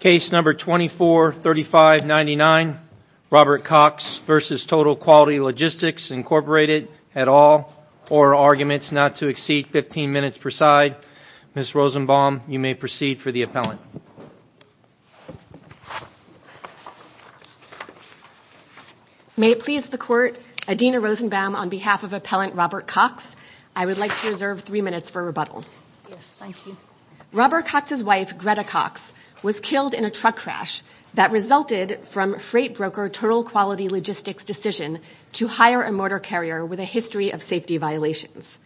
Case No. 243599, Robert Cox v. Total Quality Logistics, Incorporated, et al., or arguments not to exceed 15 minutes per side. Ms. Rosenbaum, you may proceed for the appellant. May it please the Court, Adina Rosenbaum on behalf of Appellant Robert Cox, I would like to reserve three minutes for rebuttal. Yes, thank you. Robert Cox's wife, Greta Cox, was killed in a truck crash that resulted from freight broker Total Quality Logistics' decision to hire a motor carrier with a history of safety violations.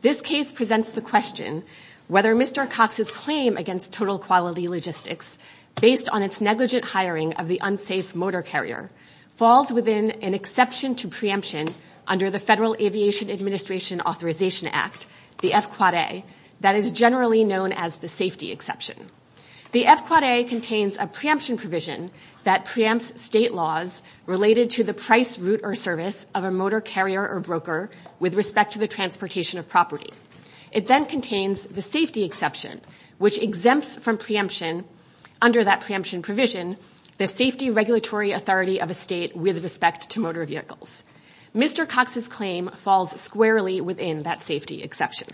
This case presents the question whether Mr. Cox's claim against Total Quality Logistics, based on its negligent hiring of the unsafe motor carrier, falls within an exception to preemption under the Federal Aviation Administration Authorization Act, the FQAA, that is generally known as the safety exception. The FQAA contains a preemption provision that preempts state laws related to the price, route, or service of a motor carrier or broker with respect to the transportation of property. It then contains the safety exception, which exempts from preemption under that preemption provision the safety regulatory authority of a state with respect to motor vehicles. Mr. Cox's claim falls squarely within that safety exception.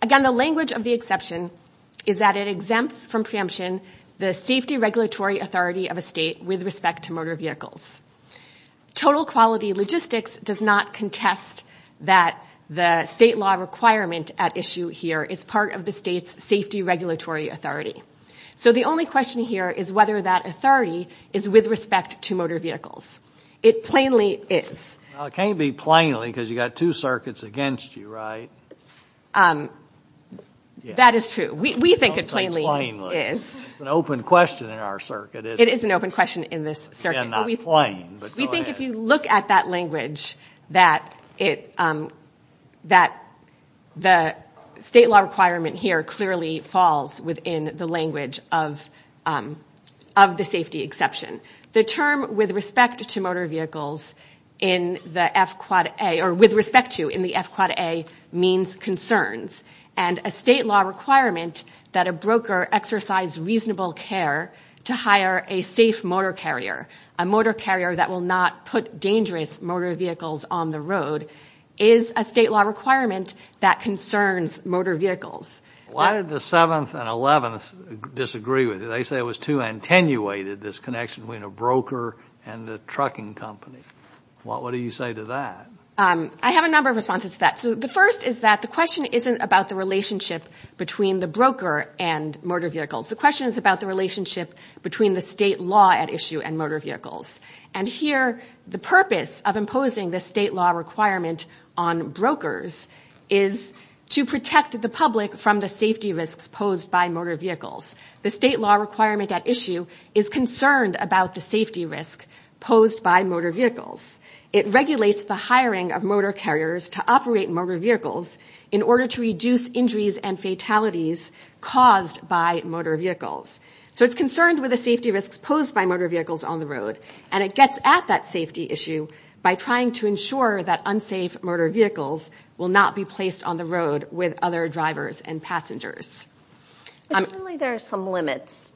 Again, the language of the exception is that it exempts from preemption the safety regulatory authority of a state with respect to motor vehicles. Total Quality Logistics does not contest that the state law requirement at issue here is part of the state's safety regulatory authority. So the only question here is whether that authority is with respect to motor vehicles. It plainly is. Well, it can't be plainly because you've got two circuits against you, right? That is true. We think it plainly is. Don't say plainly. It's an open question in our circuit. It is an open question in this circuit. Again, not plain, but go ahead. We think if you look at that language, that the state law requirement here clearly falls within the language of the safety exception. The term with respect to motor vehicles in the F-Quad A, or with respect to in the F-Quad A, means concerns. And a state law requirement that a broker exercise reasonable care to hire a safe motor carrier, a motor carrier that will not put dangerous motor vehicles on the road, is a state law requirement that concerns motor vehicles. Why did the 7th and 11th disagree with you? They say it was too attenuated, this connection between a broker and the trucking company. What do you say to that? I have a number of responses to that. So the first is that the question isn't about the relationship between the broker and motor vehicles. The question is about the relationship between the state law at issue and motor vehicles. And here the purpose of imposing the state law requirement on brokers is to protect the public from the safety risks posed by motor vehicles. The state law requirement at issue is concerned about the safety risk posed by motor vehicles. It regulates the hiring of motor carriers to operate motor vehicles in order to reduce injuries and fatalities caused by motor vehicles. So it's concerned with the safety risks posed by motor vehicles on the road, and it gets at that safety issue by trying to ensure that unsafe motor vehicles will not be placed on the road with other drivers and passengers. Surely there are some limits.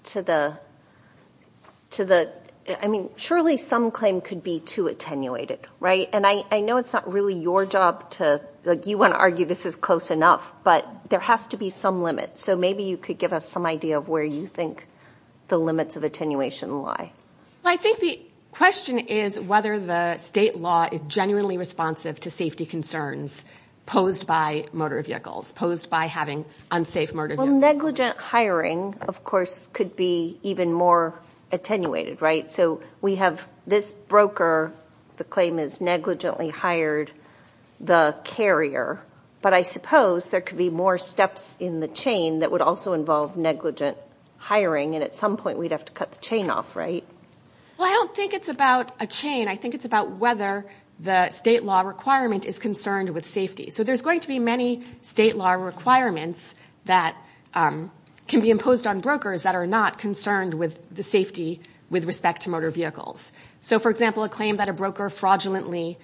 I mean, surely some claim could be too attenuated, right? And I know it's not really your job to argue this is close enough, but there has to be some limit. So maybe you could give us some idea of where you think the limits of attenuation lie. I think the question is whether the state law is genuinely responsive to safety concerns posed by motor vehicles, posed by having unsafe motor vehicles. Well, negligent hiring, of course, could be even more attenuated, right? So we have this broker, the claim is negligently hired, the carrier. But I suppose there could be more steps in the chain that would also involve negligent hiring, and at some point we'd have to cut the chain off, right? Well, I don't think it's about a chain. I think it's about whether the state law requirement is concerned with safety. So there's going to be many state law requirements that can be imposed on brokers that are not concerned with the safety with respect to motor vehicles. So, for example, a claim that a broker fraudulently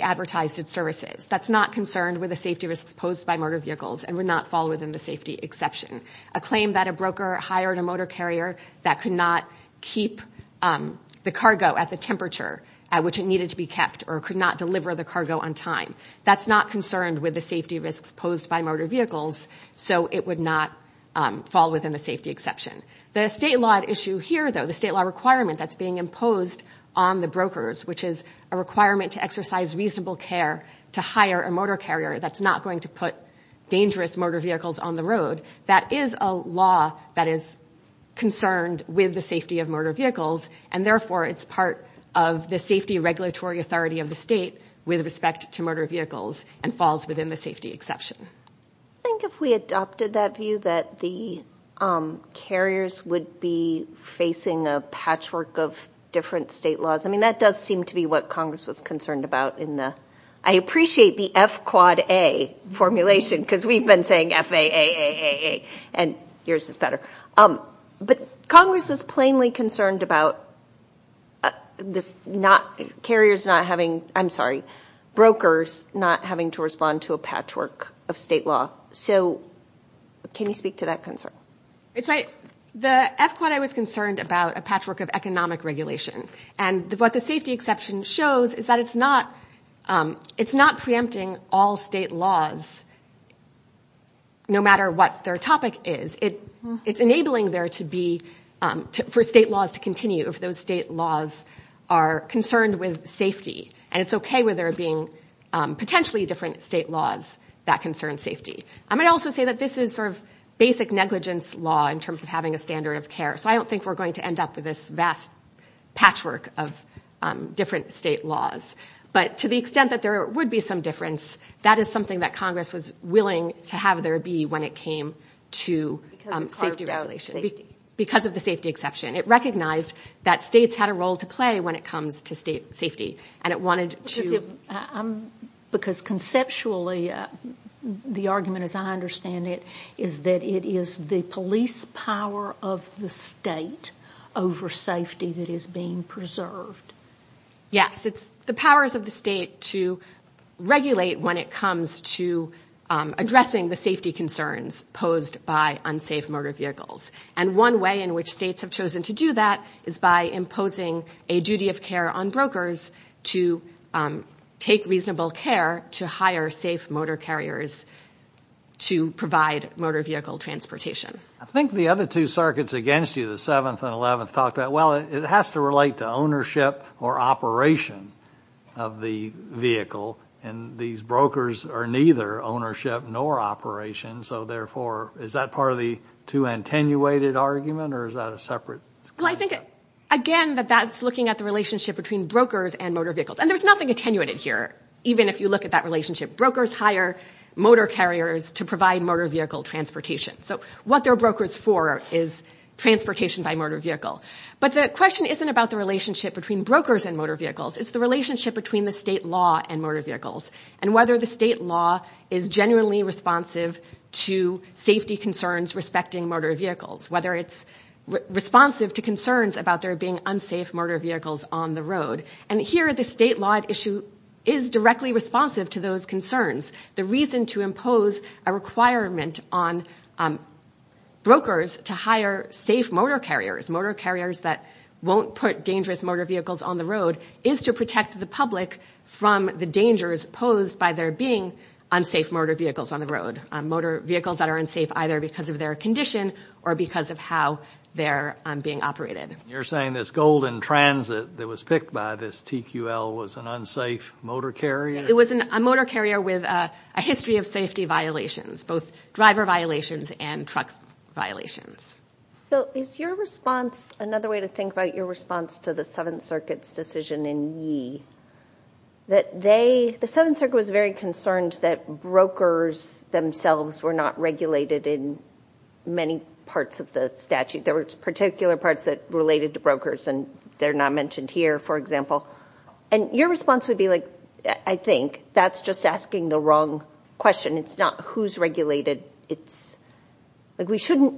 advertised its services. That's not concerned with the safety risks posed by motor vehicles and would not fall within the safety exception. A claim that a broker hired a motor carrier that could not keep the cargo at the temperature at which it needed to be kept or could not deliver the cargo on time. That's not concerned with the safety risks posed by motor vehicles, so it would not fall within the safety exception. The state law issue here, though, the state law requirement that's being imposed on the brokers, which is a requirement to exercise reasonable care to hire a motor carrier that's not going to put dangerous motor vehicles on the road, that is a law that is concerned with the safety of motor vehicles, and therefore it's part of the safety regulatory authority of the state with respect to motor vehicles and falls within the safety exception. I think if we adopted that view that the carriers would be facing a patchwork of different state laws, I mean, that does seem to be what Congress was concerned about in the, I appreciate the F-quad-A formulation because we've been saying F-A-A-A-A-A, and yours is better. But Congress is plainly concerned about brokers not having to respond to a patchwork of state law. So can you speak to that concern? The F-quad-A was concerned about a patchwork of economic regulation, and what the safety exception shows is that it's not preempting all state laws no matter what their topic is. It's enabling there to be, for state laws to continue if those state laws are concerned with safety, and it's okay where there are being potentially different state laws that concern safety. I might also say that this is sort of basic negligence law in terms of having a standard of care, so I don't think we're going to end up with this vast patchwork of different state laws. But to the extent that there would be some difference, that is something that Congress was willing to have there be when it came to safety regulation. Because of the safety exception. It recognized that states had a role to play when it comes to state safety, and it wanted to. Because conceptually the argument, as I understand it, is that it is the police power of the state over safety that is being preserved. Yes, it's the powers of the state to regulate when it comes to addressing the safety concerns posed by unsafe motor vehicles. And one way in which states have chosen to do that is by imposing a duty of care on brokers to take reasonable care to hire safe motor carriers to provide motor vehicle transportation. I think the other two circuits against you, the 7th and 11th, talked about, well, it has to relate to ownership or operation of the vehicle. And these brokers are neither ownership nor operation, so therefore is that part of the too attenuated argument, or is that a separate? Well, I think, again, that that's looking at the relationship between brokers and motor vehicles. And there's nothing attenuated here, even if you look at that relationship. Brokers hire motor carriers to provide motor vehicle transportation. So what they're brokers for is transportation by motor vehicle. But the question isn't about the relationship between brokers and motor vehicles. It's the relationship between the state law and motor vehicles and whether the state law is genuinely responsive to safety concerns respecting motor vehicles, whether it's responsive to concerns about there being unsafe motor vehicles on the road. And here the state law at issue is directly responsive to those concerns. The reason to impose a requirement on brokers to hire safe motor carriers, motor carriers that won't put dangerous motor vehicles on the road, is to protect the public from the dangers posed by there being unsafe motor vehicles on the road, motor vehicles that are unsafe either because of their condition or because of how they're being operated. You're saying this Golden Transit that was picked by this TQL was an unsafe motor carrier? It was a motor carrier with a history of safety violations, both driver violations and truck violations. Another way to think about your response to the Seventh Circuit's decision in Yee, the Seventh Circuit was very concerned that brokers themselves were not regulated in many parts of the statute. There were particular parts that related to brokers, and they're not mentioned here, for example. And your response would be like, I think that's just asking the wrong question. It's not who's regulated. It's like we shouldn't.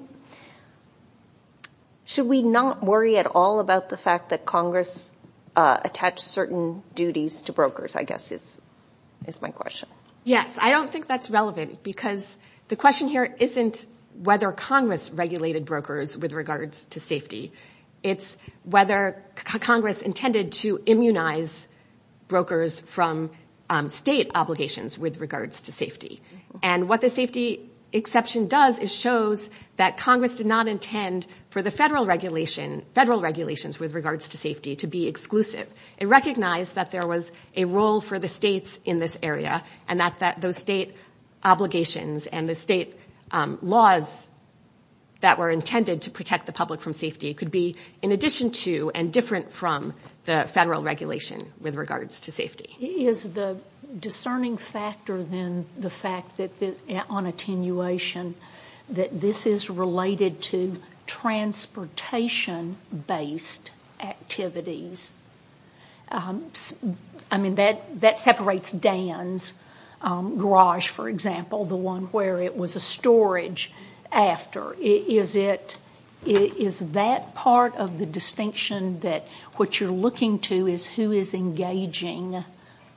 Should we not worry at all about the fact that Congress attached certain duties to brokers, I guess is my question. Yes, I don't think that's relevant because the question here isn't whether Congress regulated brokers with regards to safety. It's whether Congress intended to immunize brokers from state obligations with regards to safety. And what the safety exception does is shows that Congress did not intend for the federal regulations with regards to safety to be exclusive. It recognized that there was a role for the states in this area, and that those state obligations and the state laws that were intended to protect the public from safety could be in addition to and different from the federal regulation with regards to safety. Is the discerning factor then the fact that on attenuation that this is related to transportation-based activities? I mean, that separates Dan's garage, for example, the one where it was a storage after. Is that part of the distinction that what you're looking to is who is engaging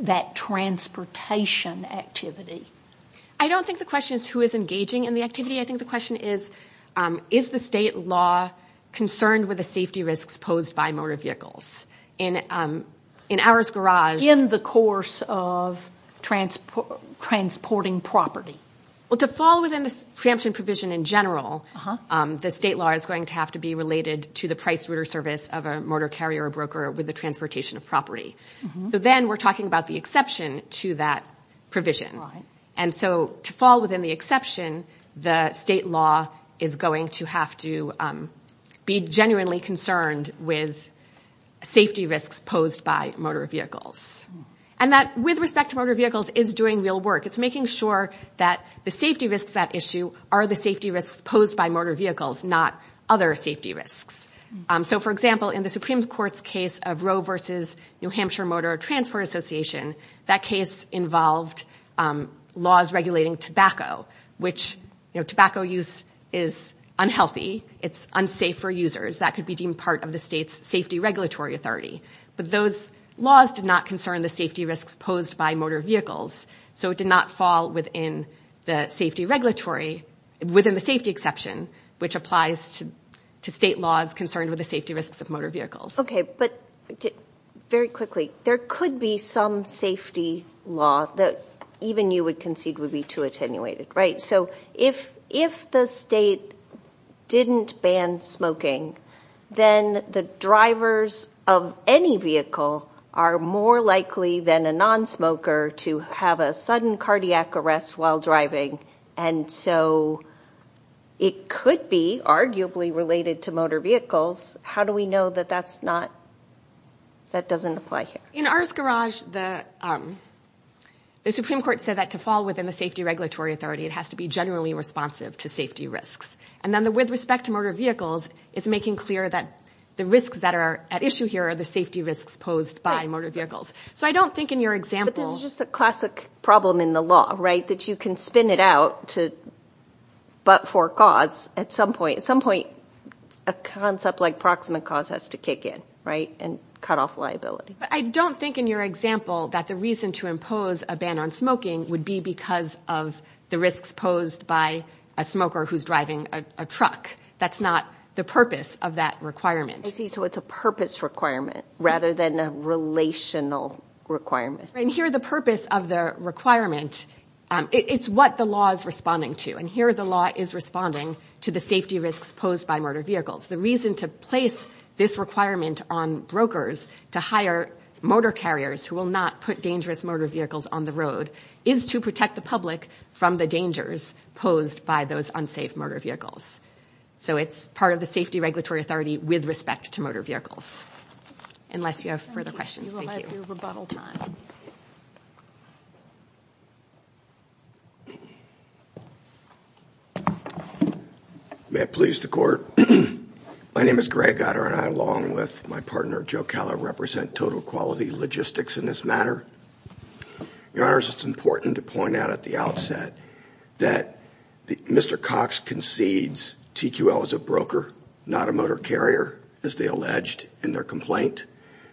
that transportation activity? I don't think the question is who is engaging in the activity. I think the question is, is the state law concerned with the safety risks posed by motor vehicles? In ours garage- In the course of transporting property. Well, to fall within the preemption provision in general, the state law is going to have to be related to the price-router service of a motor carrier or broker with the transportation of property. So then we're talking about the exception to that provision. And so to fall within the exception, the state law is going to have to be genuinely concerned with safety risks posed by motor vehicles. And that, with respect to motor vehicles, is doing real work. It's making sure that the safety risks at issue are the safety risks posed by motor vehicles, not other safety risks. So, for example, in the Supreme Court's case of Roe versus New Hampshire Motor Transport Association, that case involved laws regulating tobacco, which tobacco use is unhealthy. It's unsafe for users. That could be deemed part of the state's safety regulatory authority. But those laws did not concern the safety risks posed by motor vehicles. So it did not fall within the safety regulatory-within the safety exception, which applies to state laws concerned with the safety risks of motor vehicles. Okay, but very quickly, there could be some safety law that even you would concede would be too attenuated, right? So if the state didn't ban smoking, then the drivers of any vehicle are more likely than a nonsmoker to have a sudden cardiac arrest while driving. And so it could be arguably related to motor vehicles. How do we know that that's not – that doesn't apply here? In ours garage, the Supreme Court said that to fall within the safety regulatory authority, it has to be generally responsive to safety risks. And then with respect to motor vehicles, it's making clear that the risks that are at issue here are the safety risks posed by motor vehicles. So I don't think in your example – But this is just a classic problem in the law, right, that you can spin it out to – but for cause. At some point, a concept like proximate cause has to kick in, right, and cut off liability. But I don't think in your example that the reason to impose a ban on smoking would be because of the risks posed by a smoker who's driving a truck. That's not the purpose of that requirement. I see. So it's a purpose requirement rather than a relational requirement. And here the purpose of the requirement – it's what the law is responding to. And here the law is responding to the safety risks posed by motor vehicles. The reason to place this requirement on brokers to hire motor carriers who will not put dangerous motor vehicles on the road is to protect the public from the dangers posed by those unsafe motor vehicles. So it's part of the safety regulatory authority with respect to motor vehicles. Unless you have further questions. Thank you. We will have your rebuttal time. May it please the court. My name is Greg Goddard and I, along with my partner Joe Keller, represent Total Quality Logistics in this matter. Your Honors, it's important to point out at the outset that Mr. Cox concedes TQL is a broker, not a motor carrier, as they alleged in their complaint.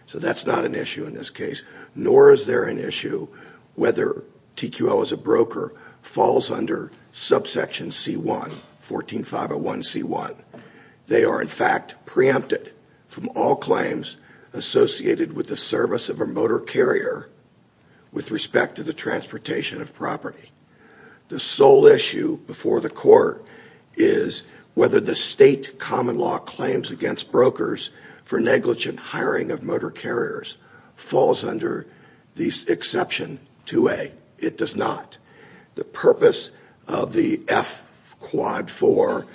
So that's not an issue in this case. Nor is there an issue whether TQL as a broker falls under subsection C1, 14501C1. They are in fact preempted from all claims associated with the service of a motor carrier with respect to the transportation of property. The sole issue before the court is whether the state common law claims against brokers for negligent hiring of motor carriers falls under the exception 2A. It does not. The purpose of the F-Quad-4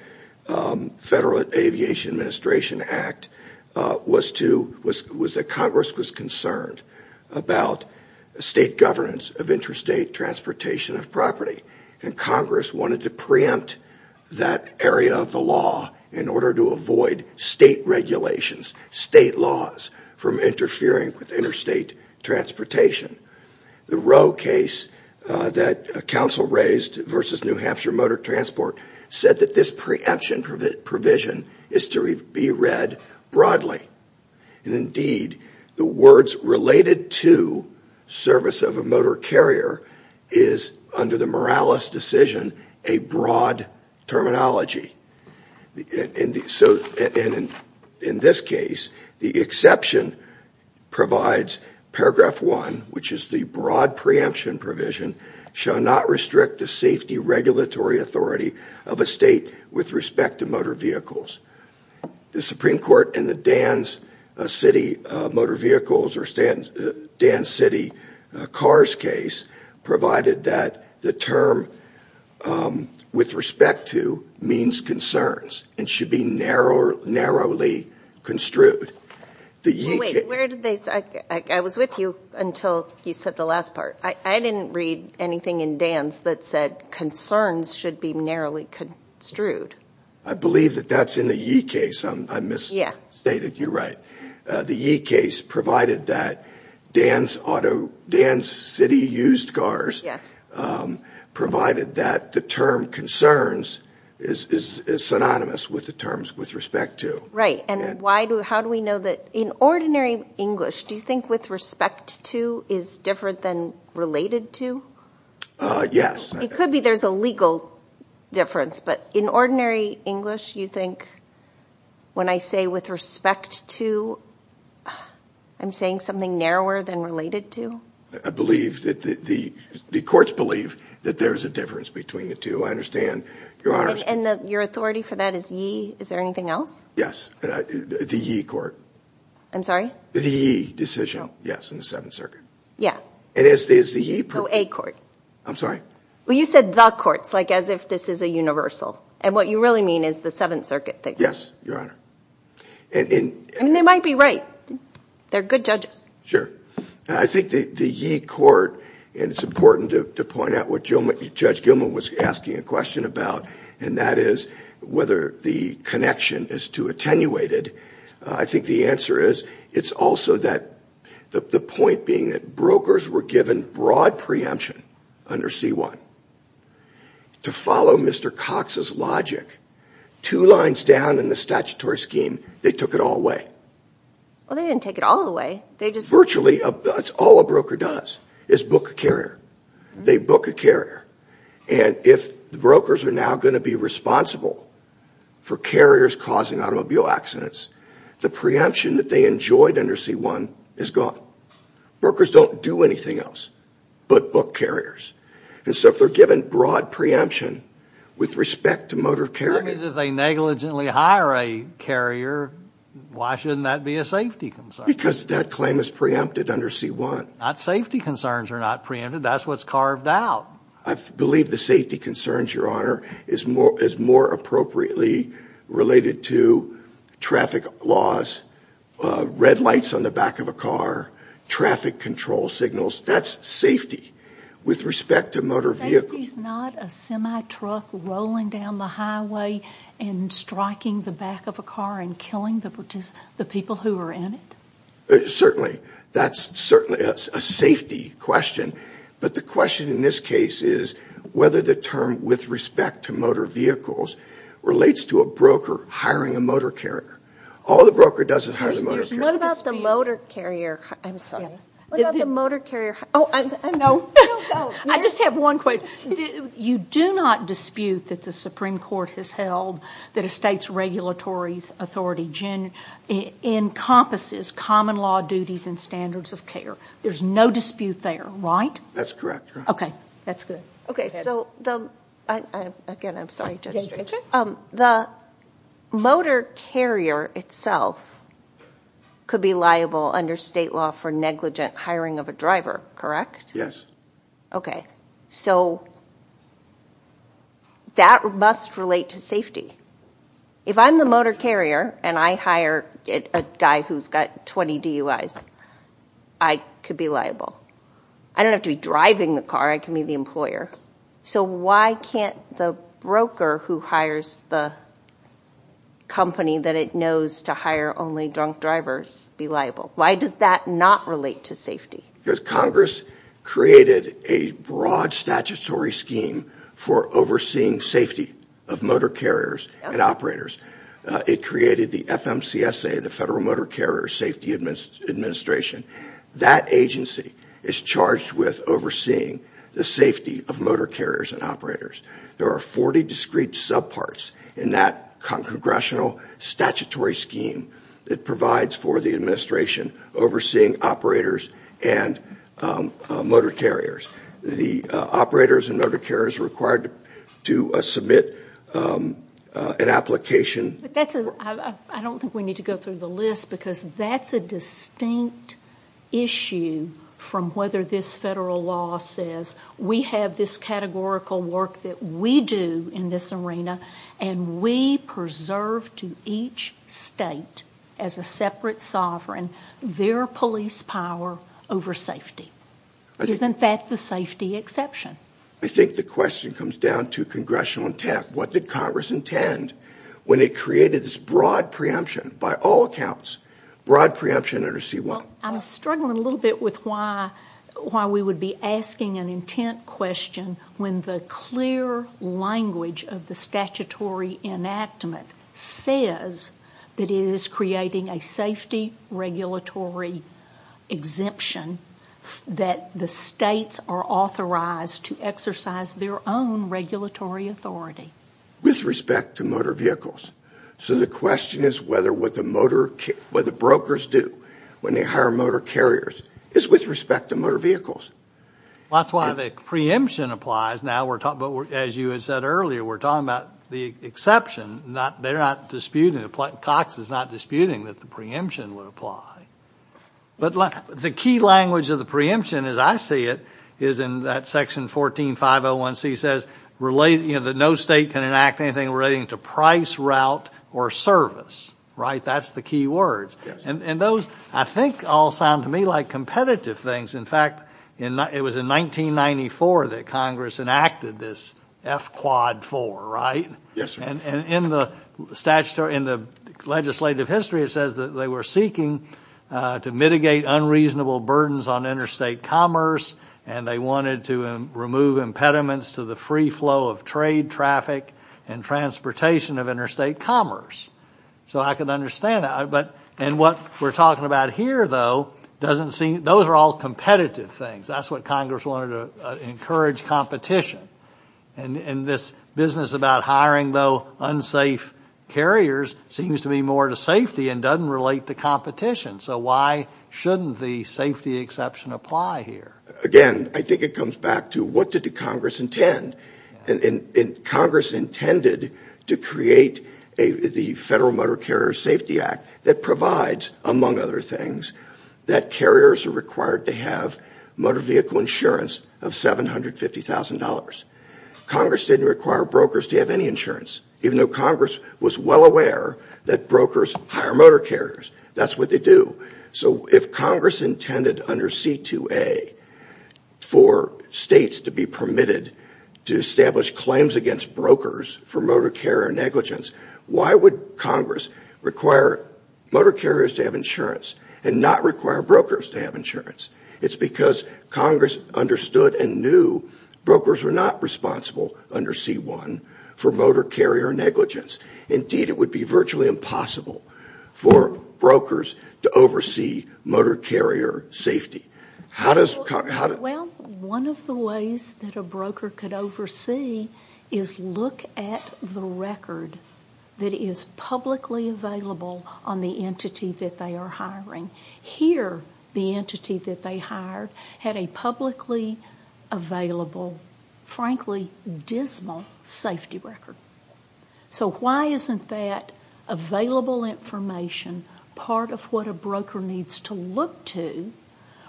Federal Aviation Administration Act was that Congress was concerned about state governance of interstate transportation of property. And Congress wanted to preempt that area of the law in order to avoid state regulations, state laws, from interfering with interstate transportation. The Roe case that counsel raised versus New Hampshire Motor Transport said that this preemption provision is to be read broadly. Indeed, the words related to service of a motor carrier is, under the Morales decision, a broad terminology. In this case, the exception provides paragraph 1, which is the broad preemption provision, shall not restrict the safety regulatory authority of a state with respect to motor vehicles. The Supreme Court in the Dan City Motor Vehicles or Dan City Cars case provided that the term with respect to means concerns and should be narrowly construed. Wait, where did they say? I was with you until you said the last part. I didn't read anything in Dan's that said concerns should be narrowly construed. I believe that that's in the Yee case. I misstated. You're right. The Yee case provided that Dan City Used Cars provided that the term concerns is synonymous with the terms with respect to. Right. And how do we know that? In ordinary English, do you think with respect to is different than related to? Yes. It could be there's a legal difference, but in ordinary English, you think when I say with respect to, I'm saying something narrower than related to? I believe that the courts believe that there is a difference between the two. I understand, Your Honor. And your authority for that is Yee? Is there anything else? Yes. The Yee court. I'm sorry? The Yee decision, yes, in the Seventh Circuit. Yeah. No, A court. I'm sorry? Well, you said the courts, like as if this is a universal. And what you really mean is the Seventh Circuit thing. Yes, Your Honor. And they might be right. They're good judges. Sure. I think the Yee court, and it's important to point out what Judge Gilman was asking a question about, and that is whether the connection is too attenuated. I think the answer is it's also that the point being that brokers were given broad preemption under C-1 to follow Mr. Cox's logic. Two lines down in the statutory scheme, they took it all away. Well, they didn't take it all away. Virtually, that's all a broker does is book a carrier. They book a carrier. And if the brokers are now going to be responsible for carriers causing automobile accidents, the preemption that they enjoyed under C-1 is gone. Brokers don't do anything else but book carriers. And so if they're given broad preemption with respect to motor carriers. That means if they negligently hire a carrier, why shouldn't that be a safety concern? Because that claim is preempted under C-1. Not safety concerns are not preempted. That's what's carved out. I believe the safety concerns, Your Honor, is more appropriately related to traffic laws, red lights on the back of a car, traffic control signals. That's safety with respect to motor vehicles. Safety is not a semi-truck rolling down the highway and striking the back of a car and killing the people who are in it. Certainly, that's a safety question. But the question in this case is whether the term with respect to motor vehicles relates to a broker hiring a motor carrier. All the broker does is hire the motor carrier. What about the motor carrier? I'm sorry. What about the motor carrier? Oh, I know. I just have one question. You do not dispute that the Supreme Court has held that a state's regulatory authority encompasses common law duties and standards of care. There's no dispute there, right? That's correct, Your Honor. Okay. That's good. Again, I'm sorry. The motor carrier itself could be liable under state law for negligent hiring of a driver, correct? Yes. Okay. So that must relate to safety. If I'm the motor carrier and I hire a guy who's got 20 DUIs, I could be liable. I don't have to be driving the car. I can be the employer. So why can't the broker who hires the company that it knows to hire only drunk drivers be liable? Why does that not relate to safety? Because Congress created a broad statutory scheme for overseeing safety of motor carriers and operators. It created the FMCSA, the Federal Motor Carrier Safety Administration. That agency is charged with overseeing the safety of motor carriers and operators. There are 40 discrete subparts in that congressional statutory scheme that provides for the administration overseeing operators and motor carriers. The operators and motor carriers are required to submit an application. I don't think we need to go through the list because that's a distinct issue from whether this federal law says, we have this categorical work that we do in this arena, and we preserve to each state as a separate sovereign their police power over safety. Isn't that the safety exception? I think the question comes down to congressional intent. What did Congress intend when it created this broad preemption by all accounts, broad preemption under C-1? I'm struggling a little bit with why we would be asking an intent question when the clear language of the statutory enactment says that it is creating a safety regulatory exemption that the states are authorized to exercise their own regulatory authority. With respect to motor vehicles. The question is whether what the brokers do when they hire motor carriers is with respect to motor vehicles. That's why the preemption applies. As you had said earlier, we're talking about the exception. Cox is not disputing that the preemption would apply. The key language of the preemption, as I see it, is in that section 14-501C, that no state can enact anything relating to price, route, or service. That's the key words. Those, I think, all sound to me like competitive things. In fact, it was in 1994 that Congress enacted this F-Quad-4. In the legislative history, it says that they were seeking to mitigate unreasonable burdens on interstate commerce and they wanted to remove impediments to the free flow of trade, traffic, and transportation of interstate commerce. I can understand that. What we're talking about here, though, those are all competitive things. That's what Congress wanted to encourage, competition. This business about hiring, though, unsafe carriers seems to be more to safety and doesn't relate to competition. So why shouldn't the safety exception apply here? Again, I think it comes back to what did the Congress intend? Congress intended to create the Federal Motor Carrier Safety Act that provides, among other things, that carriers are required to have motor vehicle insurance of $750,000. Congress didn't require brokers to have any insurance, even though Congress was well aware that brokers hire motor carriers. That's what they do. So if Congress intended under C-2A for states to be permitted to establish claims against brokers for motor carrier negligence, why would Congress require motor carriers to have insurance and not require brokers to have insurance? It's because Congress understood and knew brokers were not responsible under C-1 for motor carrier negligence. Indeed, it would be virtually impossible for brokers to oversee motor carrier safety. Well, one of the ways that a broker could oversee is look at the record that is publicly available on the entity that they are hiring. Here, the entity that they hired had a publicly available, frankly, dismal safety record. So why isn't that available information part of what a broker needs to look to,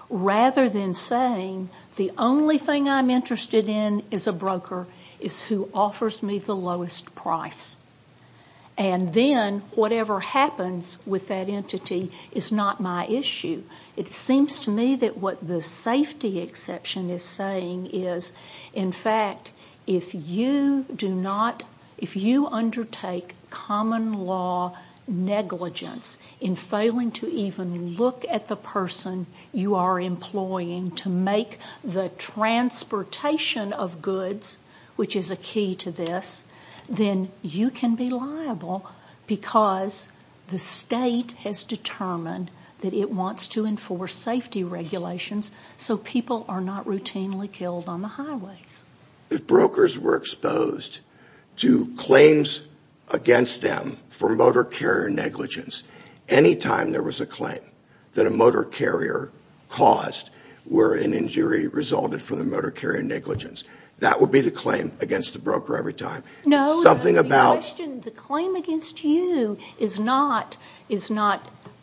rather than saying the only thing I'm interested in as a broker is who offers me the lowest price, and then whatever happens with that entity is not my issue? It seems to me that what the safety exception is saying is, in fact, if you undertake common law negligence in failing to even look at the person you are employing to make the transportation of goods, which is a key to this, then you can be liable because the state has determined that it wants to enforce safety regulations so people are not routinely killed on the highways. If brokers were exposed to claims against them for motor carrier negligence, any time there was a claim that a motor carrier caused where an injury resulted from the motor carrier negligence, that would be the claim against the broker every time. No, the claim against you is not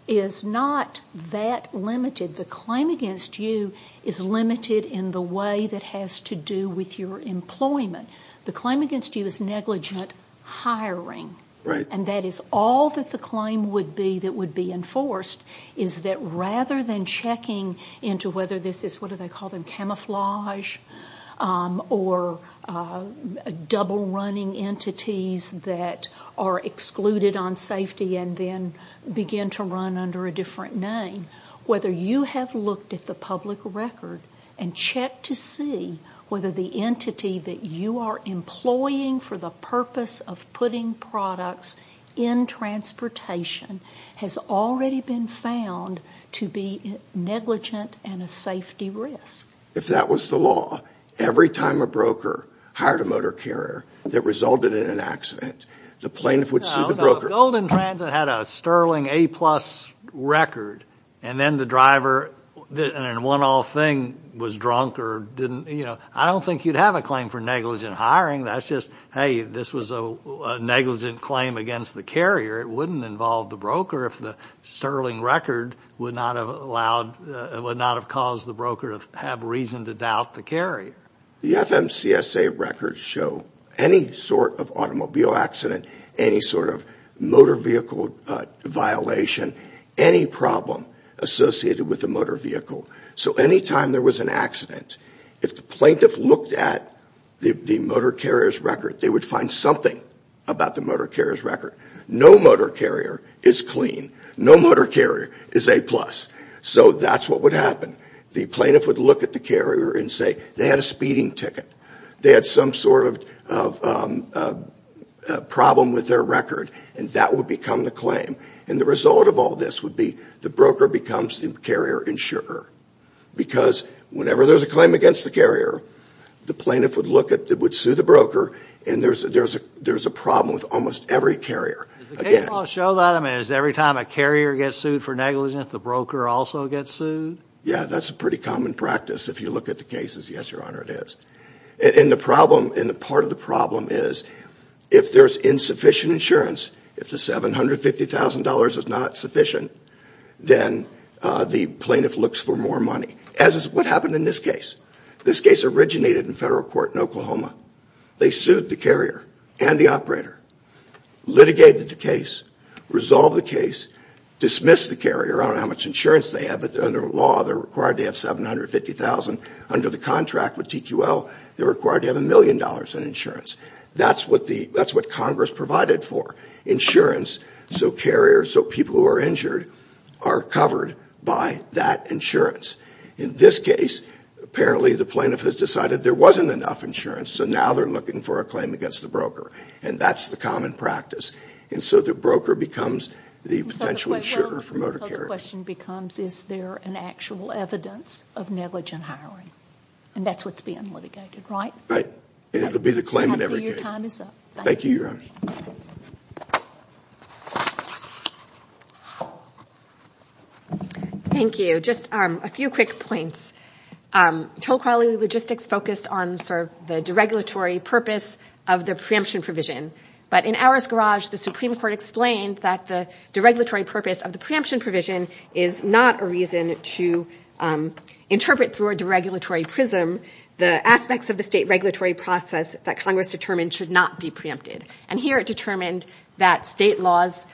that limited. The claim against you is limited in the way that has to do with your employment. The claim against you is negligent hiring. Right. And that is all that the claim would be that would be enforced, is that rather than checking into whether this is, what do they call them, camouflage or double-running entities that are excluded on safety and then begin to run under a different name, whether you have looked at the public record and checked to see whether the entity that you are employing for the purpose of putting products in transportation has already been found to be negligent and a safety risk. If that was the law, every time a broker hired a motor carrier that resulted in an accident, the plaintiff would sue the broker. If Golden Transit had a Sterling A-plus record and then the driver in one all thing was drunk or didn't, you know, I don't think you'd have a claim for negligent hiring. That's just, hey, this was a negligent claim against the carrier. It wouldn't involve the broker if the Sterling record would not have allowed, would not have caused the broker to have reason to doubt the carrier. The FMCSA records show any sort of automobile accident, any sort of motor vehicle violation, any problem associated with a motor vehicle. So any time there was an accident, if the plaintiff looked at the motor carrier's record, they would find something about the motor carrier's record. No motor carrier is clean. No motor carrier is A-plus. So that's what would happen. The plaintiff would look at the carrier and say they had a speeding ticket. They had some sort of problem with their record and that would become the claim. And the result of all this would be the broker becomes the carrier insurer because whenever there's a claim against the carrier, the plaintiff would look at, would sue the broker, and there's a problem with almost every carrier. Does the case law show that? I mean, is it every time a carrier gets sued for negligence, the broker also gets sued? Yeah, that's a pretty common practice if you look at the cases. Yes, Your Honor, it is. And the problem, and part of the problem is if there's insufficient insurance, if the $750,000 is not sufficient, then the plaintiff looks for more money, as is what happened in this case. This case originated in federal court in Oklahoma. They sued the carrier and the operator, litigated the case, resolved the case, dismissed the carrier. I don't know how much insurance they had, but under law they're required to have $750,000. Under the contract with TQL, they're required to have $1 million in insurance. That's what Congress provided for, insurance, so carriers, so people who are injured are covered by that insurance. In this case, apparently the plaintiff has decided there wasn't enough insurance, so now they're looking for a claim against the broker, and that's the common practice. And so the broker becomes the potential insurer for motor carriers. And so the question becomes, is there an actual evidence of negligent hiring? And that's what's being litigated, right? Right. And it will be the claim in every case. I see your time is up. Thank you, Your Honor. Thank you. Just a few quick points. Toll Quality Logistics focused on sort of the deregulatory purpose of the preemption provision. But in Auer's garage, the Supreme Court explained that the deregulatory purpose of the preemption provision is not a reason to interpret through a deregulatory prism the aspects of the state regulatory process that Congress determined should not be preempted. And here it determined that state laws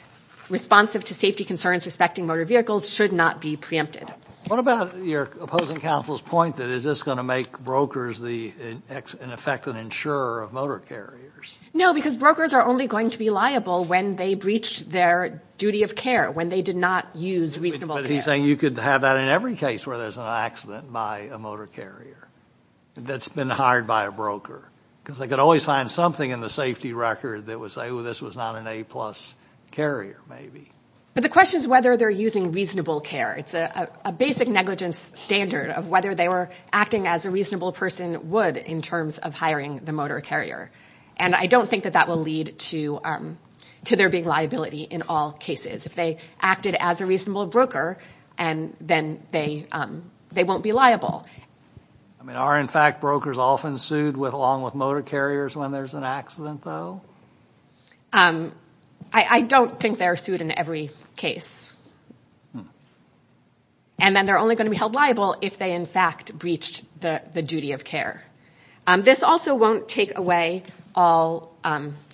responsive to safety concerns respecting motor vehicles should not be preempted. What about your opposing counsel's point that is this going to make brokers an effective insurer of motor carriers? No, because brokers are only going to be liable when they breach their duty of care, when they did not use reasonable care. I think you could have that in every case where there's an accident by a motor carrier that's been hired by a broker because they could always find something in the safety record that would say, oh, this was not an A-plus carrier maybe. But the question is whether they're using reasonable care. It's a basic negligence standard of whether they were acting as a reasonable person would in terms of hiring the motor carrier. And I don't think that that will lead to there being liability in all cases. If they acted as a reasonable broker, then they won't be liable. Are, in fact, brokers often sued along with motor carriers when there's an accident, though? I don't think they're sued in every case. And then they're only going to be held liable if they, in fact, breached the duty of care. This also won't take away all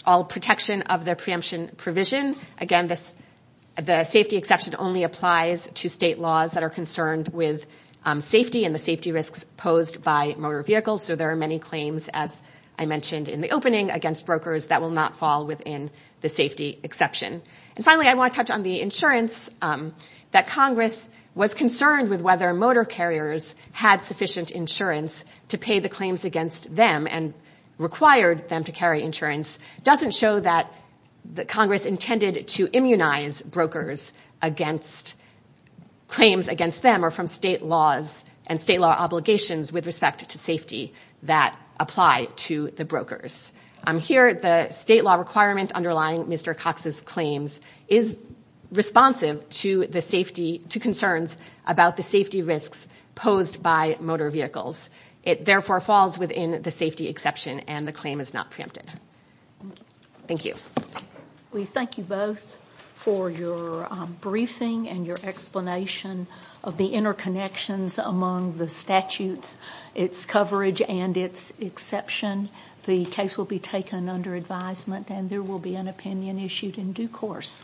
protection of the preemption provision. Again, the safety exception only applies to state laws that are concerned with safety and the safety risks posed by motor vehicles. So there are many claims, as I mentioned in the opening, against brokers that will not fall within the safety exception. And finally, I want to touch on the insurance that Congress was concerned with whether motor carriers had sufficient insurance to pay the claims against them and required them to carry insurance. It doesn't show that Congress intended to immunize brokers against claims against them or from state laws and state law obligations with respect to safety that apply to the brokers. Here, the state law requirement underlying Mr. Cox's claims is responsive to concerns about the safety risks posed by motor vehicles. It therefore falls within the safety exception, and the claim is not preempted. Thank you. We thank you both for your briefing and your explanation of the interconnections among the statutes, its coverage, and its exception. The case will be taken under advisement, and there will be an opinion issued in due course.